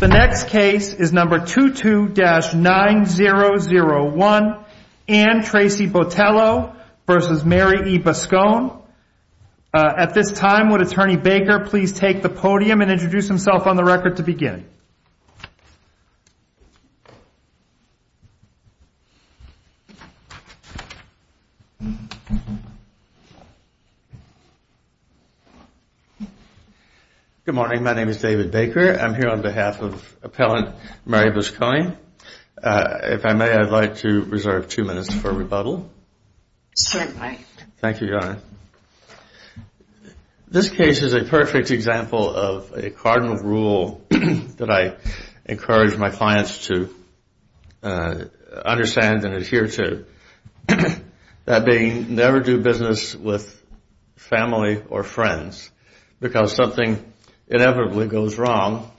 The next case is number 22-9001, Anne Tracey Botelho v. Mary E. Buscone. At this time, would Attorney Baker please take the podium and introduce himself on the record to begin? Good morning. My name is David Baker. I'm here on behalf of Appellant Mary Buscone. If I may, I'd like to reserve two minutes for rebuttal. Certainly. Thank you, Your Honor. This case is a perfect example of a cardinal rule that I encourage my clients to understand and adhere to. That being, never do business with family or friends because something inevitably goes wrong.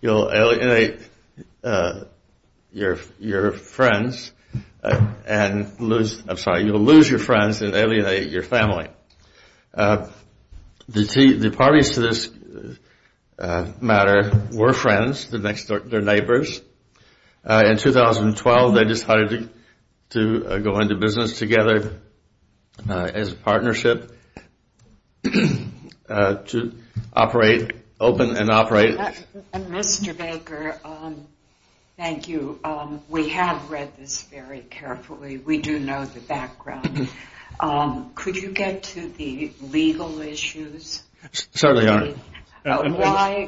You'll alienate your friends and lose, I'm sorry, you'll lose your friends and alienate your family. The parties to this matter were friends. They're neighbors. In 2012, they decided to go into business together as a partnership to operate, open and operate. Mr. Baker, thank you. We have read this very carefully. We do know the background. Could you get to the legal issues? Certainly, Your Honor.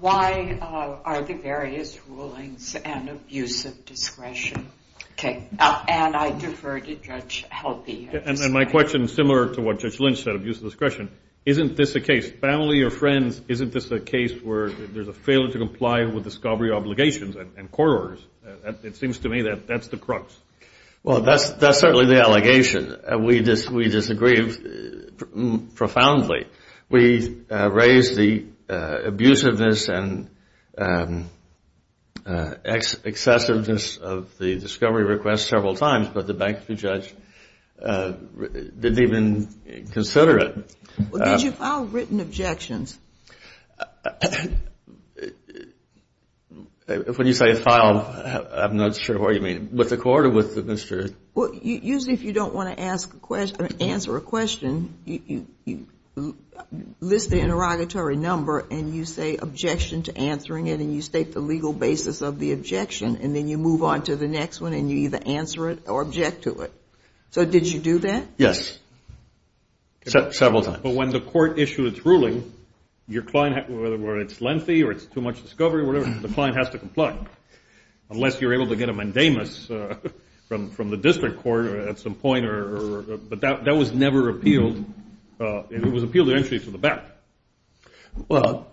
Why are the various rulings an abuse of discretion? Okay. And I defer to Judge Helpe. And my question is similar to what Judge Lynch said, abuse of discretion. Isn't this a case, family or friends, isn't this a case where there's a failure to comply with the SCOBRI obligations and court orders? It seems to me that that's the crux. Well, that's certainly the allegation. We disagree profoundly. We raised the abusiveness and excessiveness of the discovery request several times, but the bankruptcy judge didn't even consider it. Well, did you file written objections? When you say file, I'm not sure what you mean. With the court or with Mr. Usually if you don't want to answer a question, you list the interrogatory number and you say objection to answering it and you state the legal basis of the objection and then you move on to the next one and you either answer it or object to it. So did you do that? Yes. Several times. But when the court issued its ruling, whether it's lengthy or it's too much discovery, whatever, the client has to comply unless you're able to get a mandamus from the district court at some point. But that was never appealed. It was appealed eventually to the back. Well,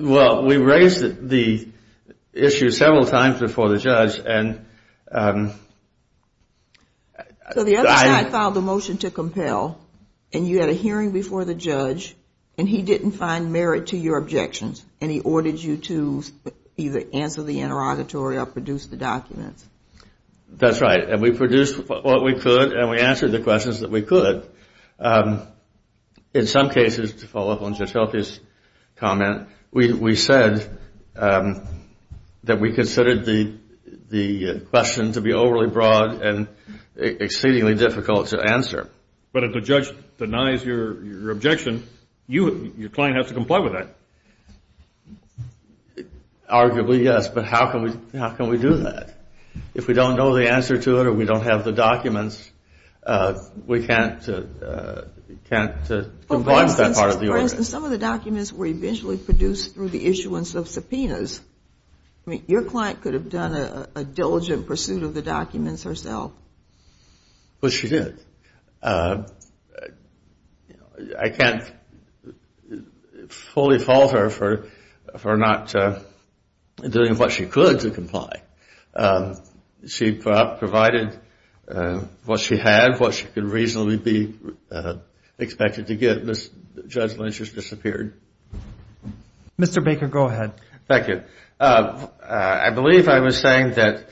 we raised the issue several times before the judge. So the other side filed the motion to compel and you had a hearing before the judge and he didn't find merit to your objections and he ordered you to either answer the interrogatory or produce the documents. That's right. And we produced what we could and we answered the questions that we could. In some cases, to follow up on Jotelke's comment, we said that we considered the question to be overly broad and exceedingly difficult to answer. But if the judge denies your objection, your client has to comply with that. Arguably, yes. But how can we do that? If we don't know the answer to it or we don't have the documents, we can't comply with that part of the order. For instance, some of the documents were eventually produced through the issuance of subpoenas. Your client could have done a diligent pursuit of the documents herself. Well, she did. I can't fully fault her for not doing what she could to comply. She provided what she had, what she could reasonably be expected to get. The judgment just disappeared. Mr. Baker, go ahead. Thank you. I believe I was saying that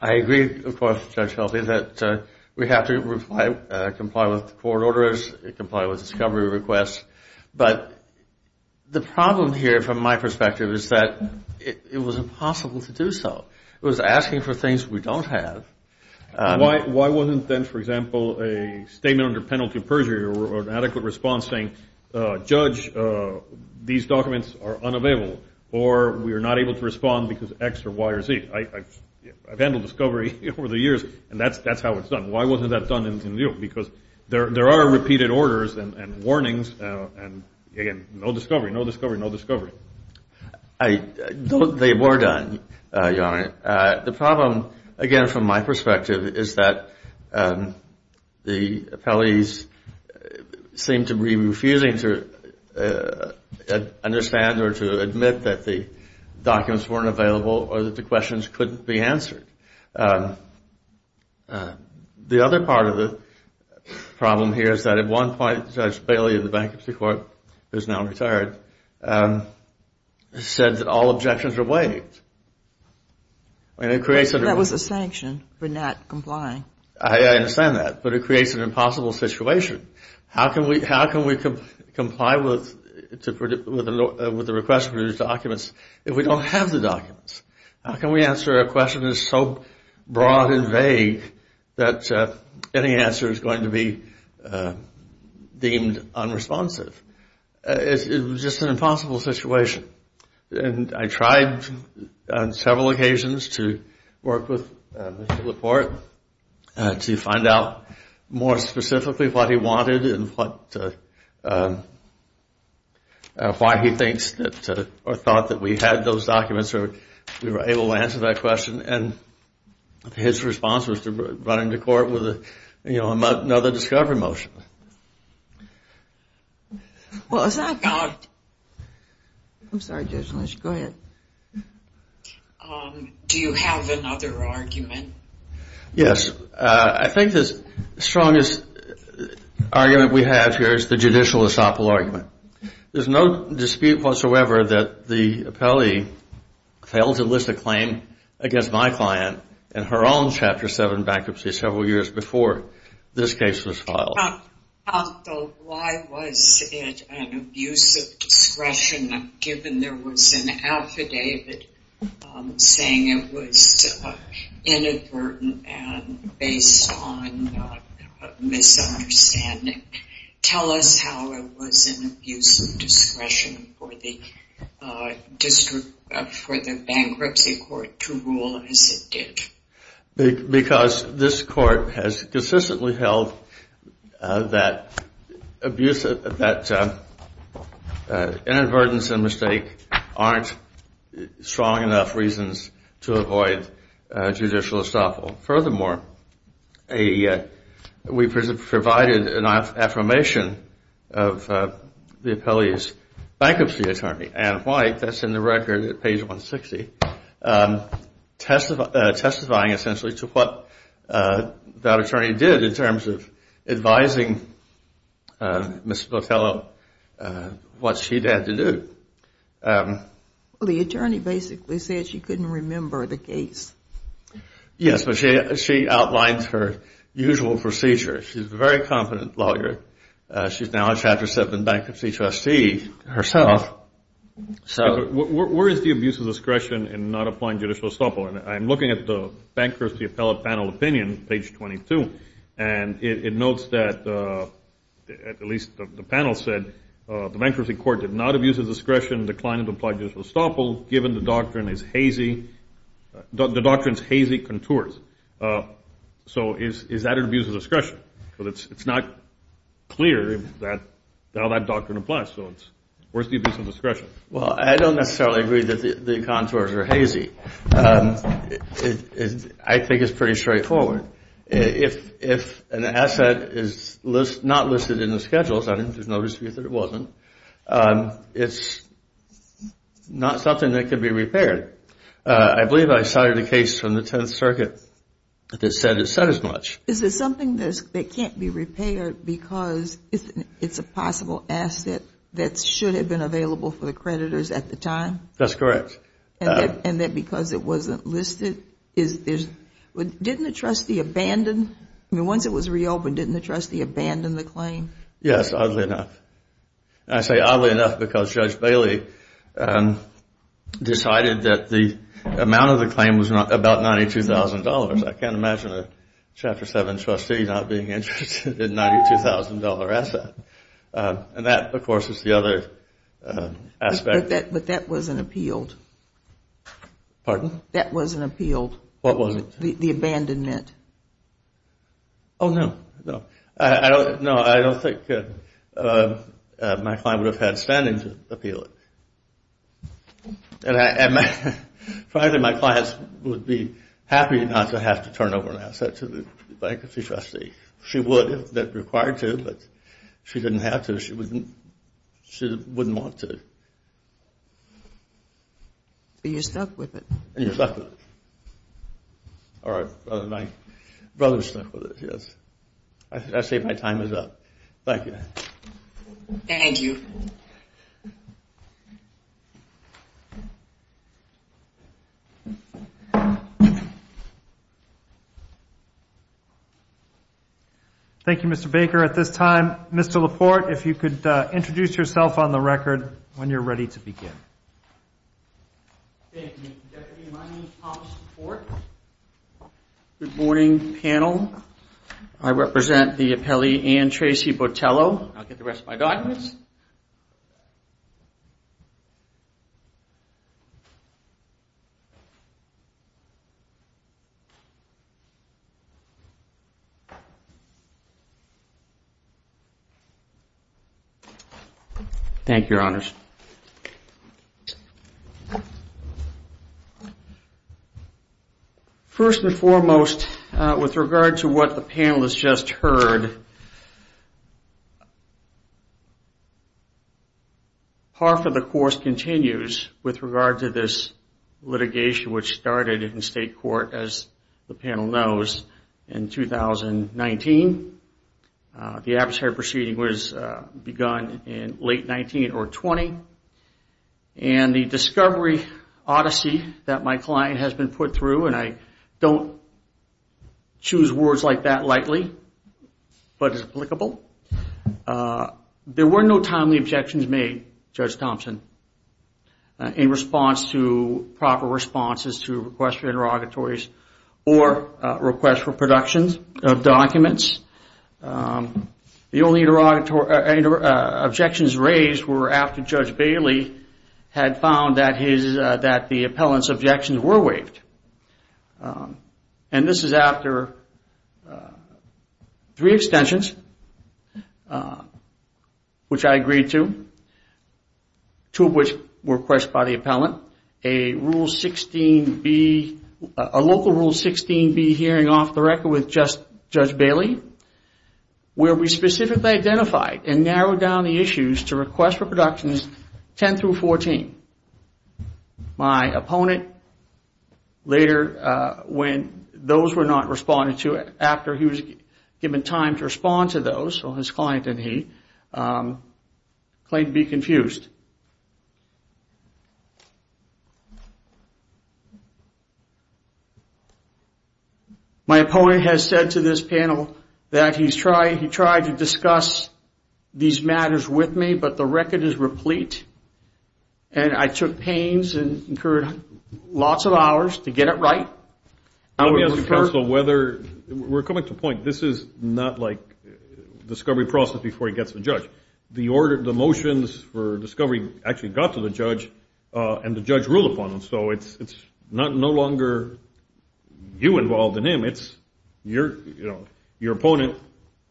I agree, of course, Judge Jotelke, that we have to comply with the court orders, comply with discovery requests. But the problem here, from my perspective, is that it was impossible to do so. It was asking for things we don't have. Why wasn't then, for example, a statement under penalty of perjury or an adequate response saying, Judge, these documents are unavailable, or we are not able to respond because X or Y or Z? I've handled discovery over the years, and that's how it's done. Why wasn't that done in New York? Because there are repeated orders and warnings, and, again, no discovery, no discovery, no discovery. They were done, Your Honor. The problem, again, from my perspective, is that the appellees seem to be refusing to understand or to admit that the documents weren't available or that the questions couldn't be answered. The other part of the problem here is that at one point, Judge Bailey of the Bankruptcy Court, who is now retired, said that all objections are waived. That was a sanction for not complying. I understand that, but it creates an impossible situation. How can we comply with the request for these documents if we don't have the documents? How can we answer a question that is so broad and vague that any answer is going to be deemed unresponsive? It was just an impossible situation, and I tried on several occasions to work with Mr. LaPorte to find out more specifically what he wanted and why he thinks or thought that we had those documents or we were able to answer that question, and his response was to run into court with another discovery motion. Well, it's not God. I'm sorry, Judge Lynch. Go ahead. Do you have another argument? Yes. I think the strongest argument we have here is the judicial esophel argument. There's no dispute whatsoever that the appellee failed to list a claim against my client in her own Chapter 7 bankruptcy several years before this case was filed. Why was it an abuse of discretion given there was an affidavit saying it was inadvertent and based on misunderstanding? Tell us how it was an abuse of discretion for the bankruptcy court to rule as it did. Because this court has consistently held that inadvertence and mistake aren't strong enough reasons to avoid judicial esophel. Furthermore, we provided an affirmation of the appellee's bankruptcy attorney, Ann White, that's in the record at page 160, testifying essentially to what that attorney did in terms of advising Ms. Botello what she'd had to do. The attorney basically said she couldn't remember the case. Yes, but she outlines her usual procedure. She's a very competent lawyer. She's now a Chapter 7 bankruptcy trustee herself. Where is the abuse of discretion in not applying judicial esophel? I'm looking at the bankruptcy appellate panel opinion, page 22, and it notes that, at least the panel said, the bankruptcy court did not abuse of discretion in declining to apply judicial esophel given the doctrine's hazy contours. So is that an abuse of discretion? Because it's not clear how that doctrine applies. So where's the abuse of discretion? Well, I don't necessarily agree that the contours are hazy. I think it's pretty straightforward. If an asset is not listed in the schedules, I think there's no dispute that it wasn't, it's not something that could be repaired. I believe I cited a case from the Tenth Circuit that said it said as much. Is it something that can't be repaired because it's a possible asset that should have been available for the creditors at the time? That's correct. And that because it wasn't listed? Didn't the trustee abandon? I mean, once it was reopened, didn't the trustee abandon the claim? Yes, oddly enough. And I say oddly enough because Judge Bailey decided that the amount of the claim was about $92,000. I can't imagine a Chapter 7 trustee not being interested in a $92,000 asset. And that, of course, is the other aspect. But that wasn't appealed. Pardon? That wasn't appealed. What wasn't? The abandonment. Oh, no. No, I don't think my client would have had standing to appeal it. And frankly, my client would be happy not to have to turn over an asset to the bankruptcy trustee. She would if required to, but she didn't have to. She wouldn't want to. But you stuck with it. And you stuck with it. All right. My brother stuck with it, yes. I say my time is up. Thank you. Thank you. Thank you, Mr. Baker. At this time, Mr. LaPorte, if you could introduce yourself on the record when you're ready to begin. Thank you, Deputy. My name is Thomas LaPorte. Good morning, panel. I represent the appellee Ann Tracy Botello. I'll get the rest of my documents. Thank you, Your Honors. Thank you, Your Honors. First and foremost, with regard to what the panel has just heard, part of the course continues with regard to this litigation which started in state court, as the panel knows, in 2019. The adversary proceeding was begun in late 19 or 20. And the discovery odyssey that my client has been put through, and I don't choose words like that lightly, but it's applicable. There were no timely objections made, Judge Thompson, in response to proper responses to requests for interrogatories or requests for production of documents. The only objections raised were after Judge Bailey had found that the appellant's objections were waived. And this is after three extensions, which I agreed to, two of which were requested by the appellant, a local Rule 16B hearing off the record with Judge Bailey, where we specifically identified and narrowed down the issues to request for productions 10 through 14. My opponent, later, when those were not responded to, after he was given time to respond to those, so his client and he, claimed to be confused. My opponent has said to this panel that he tried to discuss these matters with me, but the record is replete, and I took pains and incurred lots of hours to get it right. Let me ask the counsel whether, we're coming to a point, this is not like discovery process before he gets to the judge. The motions for discovery actually got to the judge, and the judge ruled upon them, so it's no longer you involved in him, it's your opponent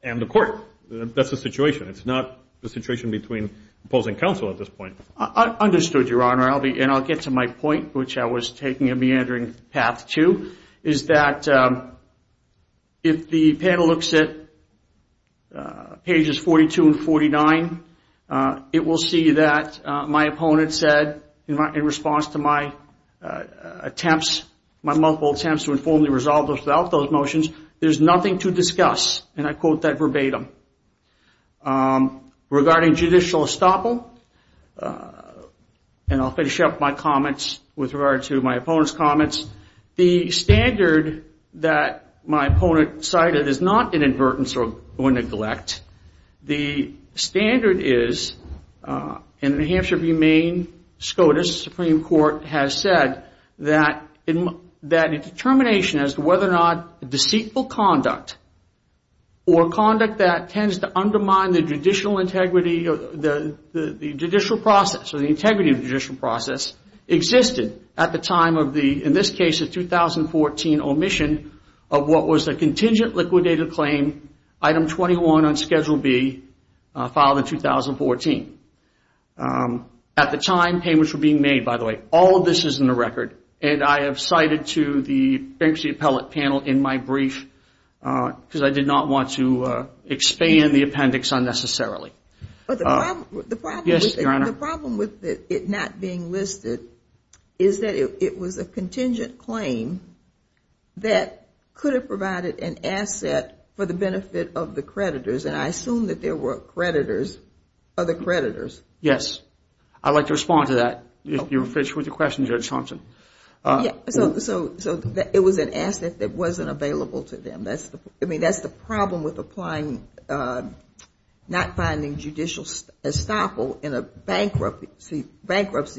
and the court. That's the situation. It's not the situation between opposing counsel at this point. I understood, Your Honor, and I'll get to my point, which I was taking a meandering path to, is that if the panel looks at pages 42 and 49, it will see that my opponent said, in response to my attempts, my multiple attempts to informally resolve those motions, there's nothing to discuss, and I quote that verbatim. Regarding judicial estoppel, and I'll finish up my comments with regard to my opponent's comments, the standard that my opponent cited is not inadvertence or neglect. The standard is, and the Hampshire v. Maine SCOTUS Supreme Court has said that a determination as to whether or not deceitful conduct or conduct that tends to undermine the judicial process or the integrity of the judicial process existed at the time of the, in this case, the 2014 omission of what was the contingent liquidated claim, item 21 on Schedule B, filed in 2014. At the time, payments were being made, by the way. All of this is in the record, and I have cited to the bankruptcy appellate panel in my brief because I did not want to expand the appendix unnecessarily. The problem with it not being listed is that it was a contingent claim that could have provided an asset for the benefit of the creditors, and I assume that there were creditors, other creditors. Yes. I'd like to respond to that. You were finished with your question, Judge Thompson. Yes. So it was an asset that wasn't available to them. I mean, that's the problem with applying, not finding judicial estoppel in a bankruptcy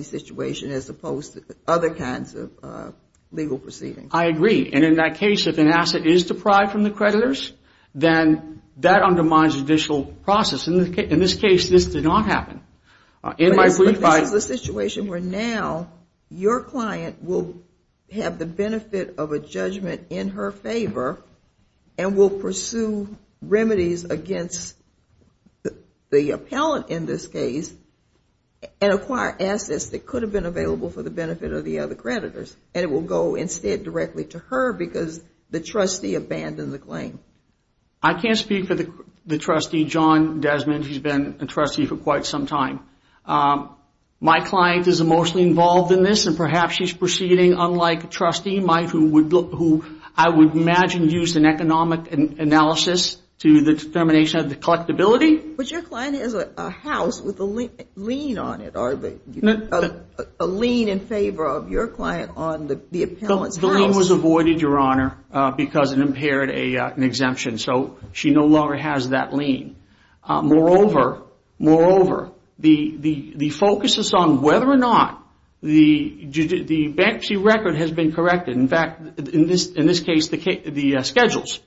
situation as opposed to other kinds of legal proceedings. I agree. And in that case, if an asset is deprived from the creditors, then that undermines judicial process. In this case, this did not happen. This is the situation where now your client will have the benefit of a judgment in her favor and will pursue remedies against the appellate in this case and acquire assets that could have been available for the benefit of the other creditors, and it will go instead directly to her because the trustee abandoned the claim. I can't speak for the trustee, John Desmond. He's been a trustee for quite some time. My client is mostly involved in this, and perhaps she's proceeding unlike a trustee, who I would imagine used an economic analysis to the determination of the collectability. But your client has a house with a lien on it, or a lien in favor of your client on the appellant's house. The lien was avoided, Your Honor, because it impaired an exemption. So she no longer has that lien. Moreover, the focus is on whether or not the bankruptcy record has been corrected. In fact, in this case, the schedules.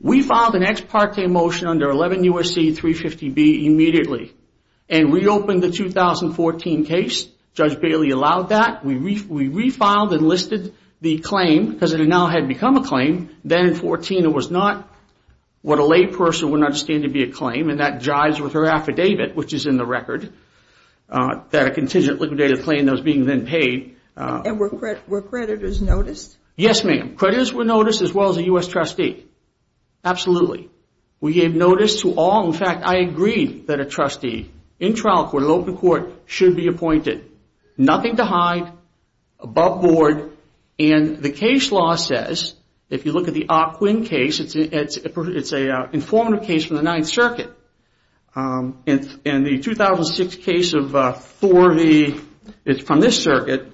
We filed an ex parte motion under 11 U.S.C. 350B immediately and reopened the 2014 case. Judge Bailey allowed that. We refiled and listed the claim because it now had become a claim. Then in 2014, it was not what a lay person would understand to be a claim, and that jives with her affidavit, which is in the record, that a contingent liquidated the claim that was being then paid. And were creditors noticed? Yes, ma'am. Creditors were noticed as well as a U.S. trustee. Absolutely. We gave notice to all. In fact, I agreed that a trustee in trial court, in open court, should be appointed. Nothing to hide. Above board. And the case law says, if you look at the Ah Quin case, it's an informative case from the Ninth Circuit. And the 2006 case from this circuit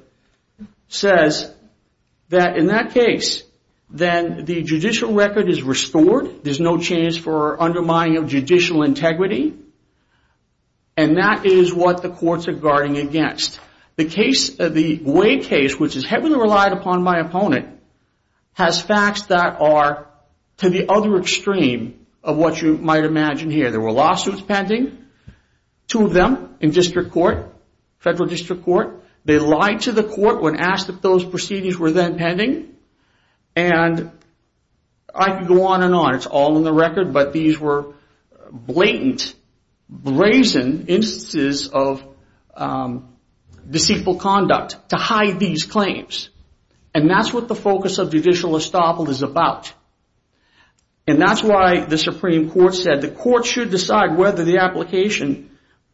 says that in that case, then the judicial record is restored. There's no chance for undermining of judicial integrity. And that is what the courts are guarding against. The Wade case, which is heavily relied upon by opponent, has facts that are to the other extreme of what you might imagine here. There were lawsuits pending, two of them in district court, federal district court. They lied to the court when asked if those proceedings were then pending. And I could go on and on. It's all in the record. But these were blatant, brazen instances of deceitful conduct to hide these claims. And that's what the focus of judicial estoppel is about. And that's why the Supreme Court said the court should decide whether the application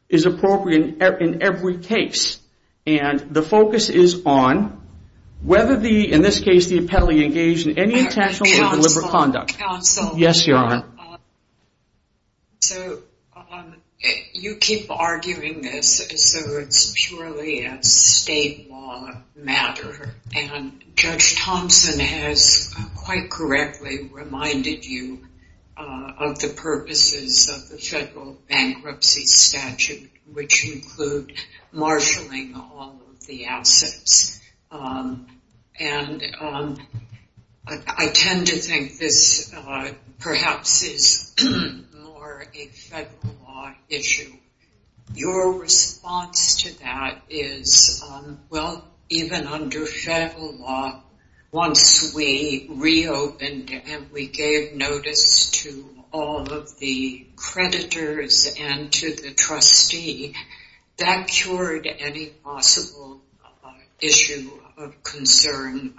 is appropriate in every case. And the focus is on whether the, in this case, the appellee engaged in any intentional or deliberate conduct. Counsel. Yes, Your Honor. So you keep arguing this as though it's purely a state law matter. And Judge Thompson has quite correctly reminded you of the purposes of the federal bankruptcy statute, which include marshaling all of the assets. And I tend to think this perhaps is more a federal law issue. Your response to that is, well, even under federal law, once we reopened and we gave notice to all of the creditors and to the trustee, that cured any possible issue of concern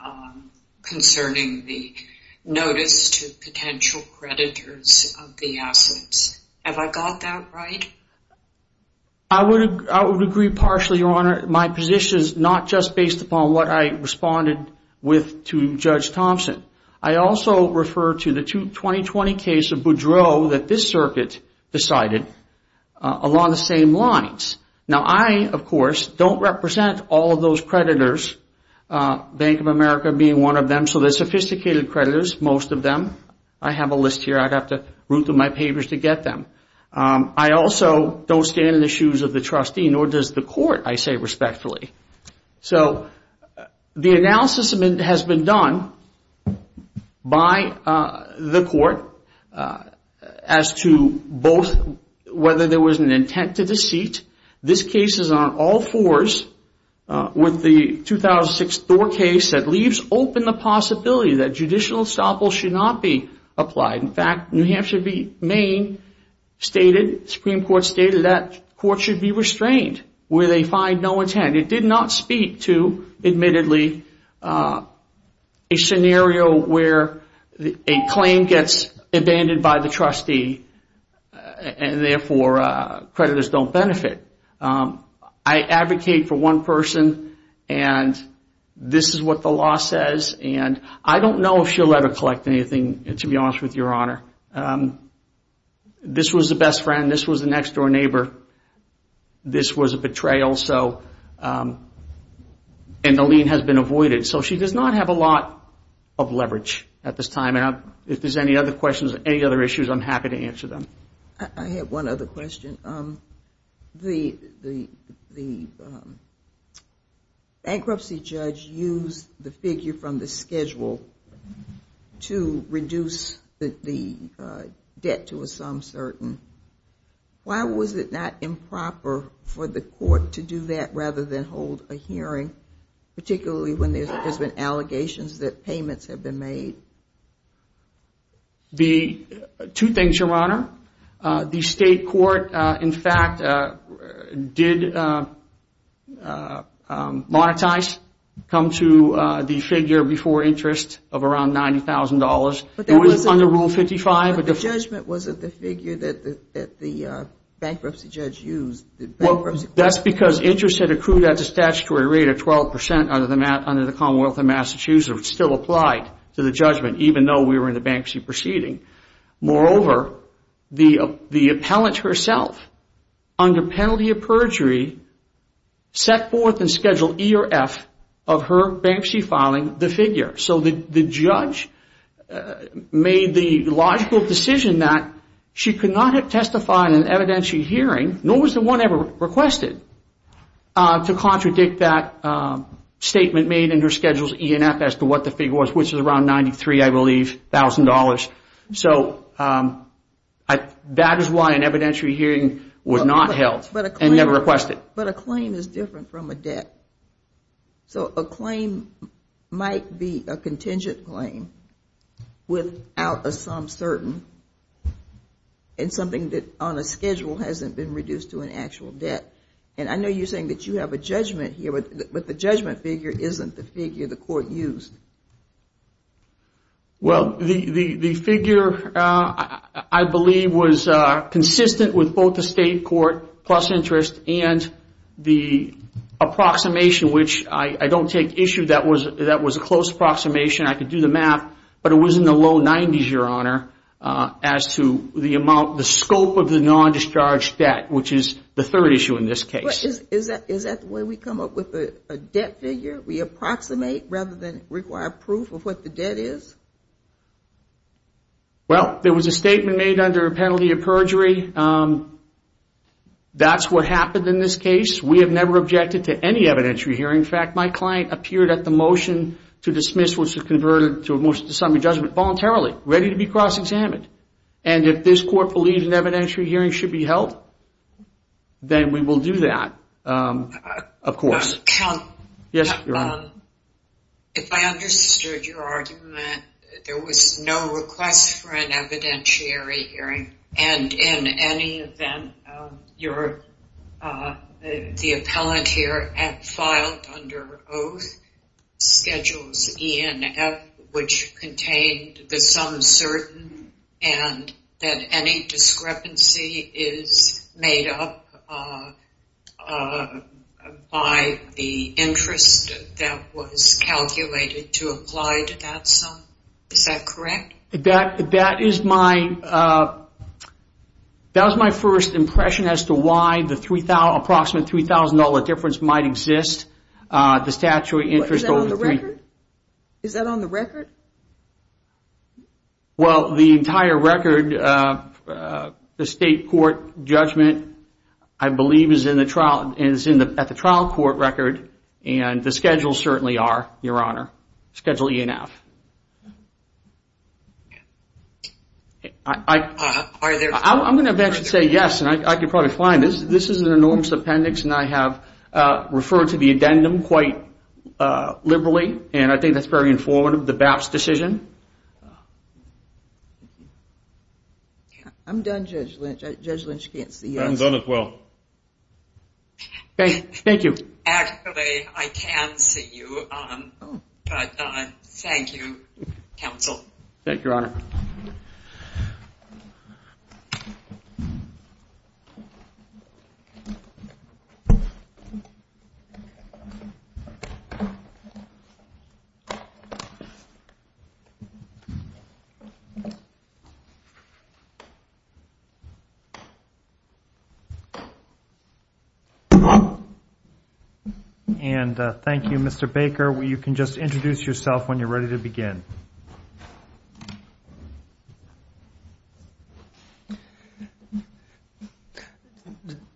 concerning the notice to potential creditors of the assets. Have I got that right? I would agree partially, Your Honor. My position is not just based upon what I responded with to Judge Thompson. I also refer to the 2020 case of Boudreaux that this circuit decided along the same lines. Now, I, of course, don't represent all of those creditors, Bank of America being one of them. So they're sophisticated creditors, most of them. I have a list here. I'd have to root through my papers to get them. I also don't stand in the shoes of the trustee, nor does the court, I say respectfully. So the analysis has been done by the court as to both whether there was an intent to deceit. This case is on all fours with the 2006 Thor case that leaves open the possibility that judicial estoppel should not be applied. In fact, New Hampshire v. Maine stated, Supreme Court stated, that court should be restrained where they find no intent. It did not speak to, admittedly, a scenario where a claim gets abandoned by the trustee and, therefore, creditors don't benefit. I advocate for one person, and this is what the law says. And I don't know if she'll ever collect anything, to be honest with Your Honor. This was the best friend. This was the next-door neighbor. This was a betrayal, and the lien has been avoided. So she does not have a lot of leverage at this time. If there's any other questions or any other issues, I'm happy to answer them. I have one other question. The bankruptcy judge used the figure from the schedule to reduce the debt to a sum certain. Why was it not improper for the court to do that rather than hold a hearing, particularly when there's been allegations that payments have been made? Two things, Your Honor. The state court, in fact, did monetize, come to the figure before interest of around $90,000. It was under Rule 55. But the judgment wasn't the figure that the bankruptcy judge used. That's because interest had accrued at the statutory rate of 12% under the Commonwealth of Massachusetts, which still applied to the judgment, even though we were in the bankruptcy proceeding. Moreover, the appellant herself, under penalty of perjury, set forth in Schedule E or F of her bankruptcy filing the figure. So the judge made the logical decision that she could not have testified in an evidentiary hearing, nor was the one ever requested, to contradict that statement made in her Schedules E and F as to what the figure was, which was around $93,000, I believe. So that is why an evidentiary hearing was not held and never requested. But a claim is different from a debt. So a claim might be a contingent claim without a sum certain, and something that on a schedule hasn't been reduced to an actual debt. And I know you're saying that you have a judgment here, but the judgment figure isn't the figure the court used. Well, the figure, I believe, was consistent with both the state court plus interest and the approximation, which I don't take issue. That was a close approximation. I could do the math, but it was in the low 90s, Your Honor, as to the scope of the non-discharge debt, which is the third issue in this case. But is that the way we come up with a debt figure? We approximate rather than require proof of what the debt is? Well, there was a statement made under penalty of perjury. That's what happened in this case. We have never objected to any evidentiary hearing. In fact, my client appeared at the motion to dismiss, which was converted to a motion to summary judgment voluntarily, ready to be cross-examined. And if this court believes an evidentiary hearing should be held, then we will do that, of course. Counsel, if I understood your argument, there was no request for an evidentiary hearing. And in any event, the appellant here filed under oath schedules E and F, which contained the sum certain and that any discrepancy is made up by the interest that was calculated to apply to that sum. Is that correct? That is my first impression as to why the approximate $3,000 difference might exist. Is that on the record? Is that on the record? Well, the entire record, the state court judgment, I believe, is at the trial court record. And the schedules certainly are, Your Honor. Schedule E and F. I'm going to eventually say yes, and I can probably find it. This is an enormous appendix, and I have referred to the addendum quite liberally, and I think that's very informative, the BAPS decision. I'm done, Judge Lynch. Judge Lynch can't see us. I'm done as well. Thank you. Actually, I can see you, but thank you, counsel. And thank you, Mr. Baker. You can just introduce yourself when you're ready to begin.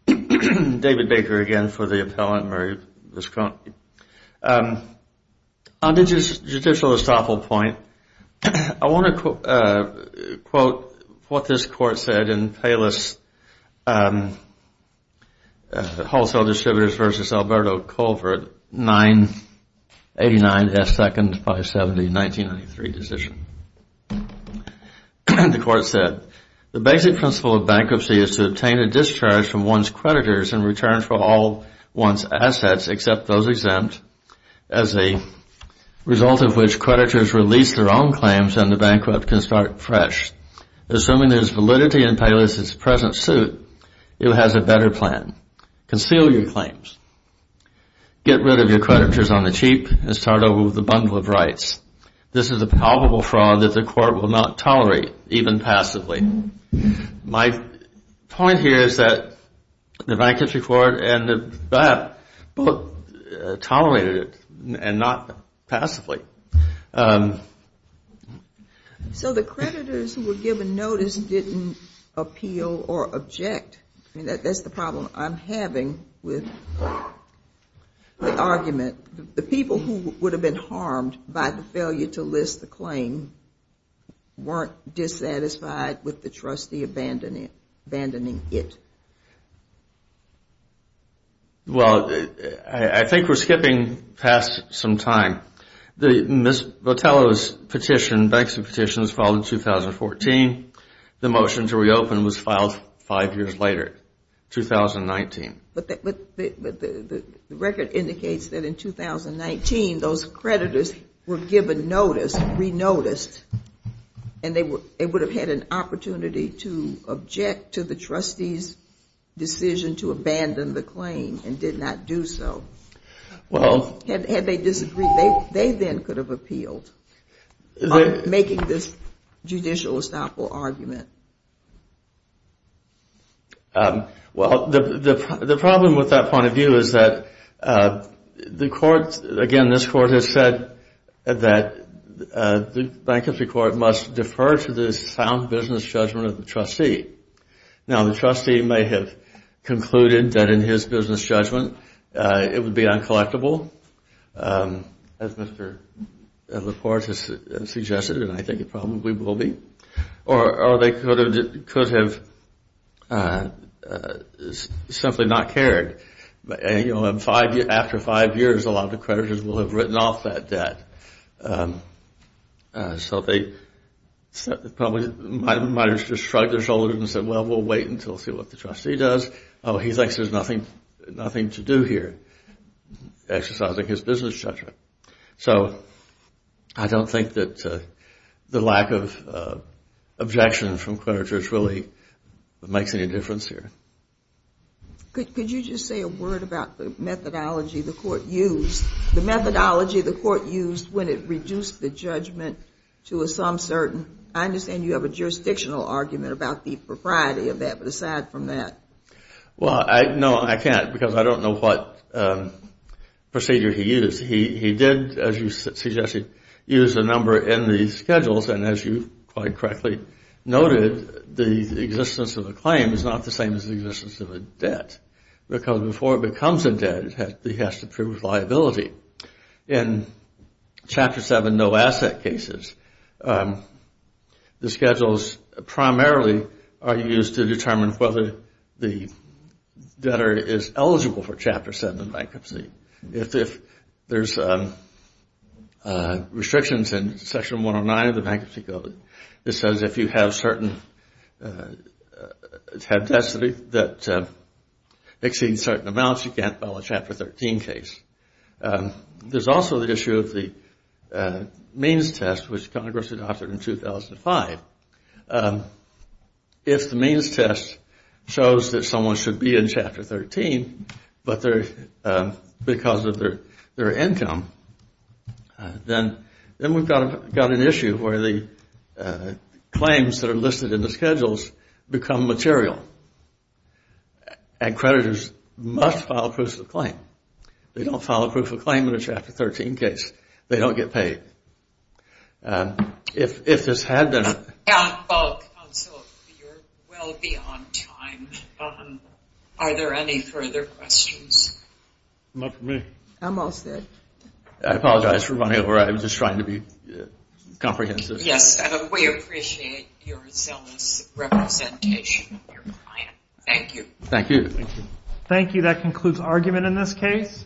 David Baker again for the appellant, Mary Biscroft. On the judicial estoppel point, I want to quote what this court said in Payless Wholesale Distributors v. Alberto Colvert, 989 S. 2nd, 570, 1993 decision. The court said, The basic principle of bankruptcy is to obtain a discharge from one's creditors in return for all one's assets except those exempt, as a result of which creditors release their own claims and the bankrupt can start fresh. Assuming there is validity in Payless's present suit, it has a better plan. Conceal your claims. Get rid of your creditors on the cheap and start over with a bundle of rights. This is a palpable fraud that the court will not tolerate, even passively. My point here is that the bankruptcy court and the bank both tolerated it and not passively. So the creditors who were given notice didn't appeal or object. That's the problem I'm having with the argument. The people who would have been harmed by the failure to list the claim weren't dissatisfied with the trustee abandoning it. Well, I think we're skipping past some time. Ms. Botello's petition, bankruptcy petition, was filed in 2014. The motion to reopen was filed five years later, 2019. But the record indicates that in 2019, those creditors were given notice, re-noticed, and they would have had an opportunity to object to the trustee's decision to abandon the claim and did not do so. Had they disagreed, they then could have appealed by making this judicial estoppel argument. Well, the problem with that point of view is that the court, again, this court has said that the bankruptcy court must defer to the sound business judgment of the trustee. Now, the trustee may have concluded that in his business judgment, it would be uncollectible, as Mr. LaPorte has suggested, and I think it probably will be. Or they could have simply not cared. After five years, a lot of the creditors will have written off that debt. So they probably might have just shrugged their shoulders and said, well, we'll wait until we see what the trustee does. Oh, he thinks there's nothing to do here, exercising his business judgment. So I don't think that the lack of objection from creditors really makes any difference here. Could you just say a word about the methodology the court used? The methodology the court used when it reduced the judgment to a some certain, I understand you have a jurisdictional argument about the propriety of that, but aside from that. Well, no, I can't because I don't know what procedure he used. He did, as you suggested, use a number in the schedules, and as you quite correctly noted, the existence of a claim is not the same as the existence of a debt. Because before it becomes a debt, it has to prove liability. In Chapter 7, no asset cases, the schedules primarily are used to determine whether the debtor is eligible for Chapter 7 bankruptcy. If there's restrictions in Section 109 of the Bankruptcy Code, it says if you have certain, have debts that exceed certain amounts, you can't file a Chapter 13 case. There's also the issue of the means test, which Congress adopted in 2005. If the means test shows that someone should be in Chapter 13, but because of their income, then we've got an issue where the claims that are listed in the schedules become material, and creditors must file a proof of claim. They don't file a proof of claim in a Chapter 13 case. They don't get paid. If this had been a... Counsel, you're well beyond time. Are there any further questions? Not from me. Almost it. I apologize for running over. I was just trying to be comprehensive. Yes, and we appreciate your zealous representation of your client. Thank you. Thank you. Thank you. That concludes argument in this case.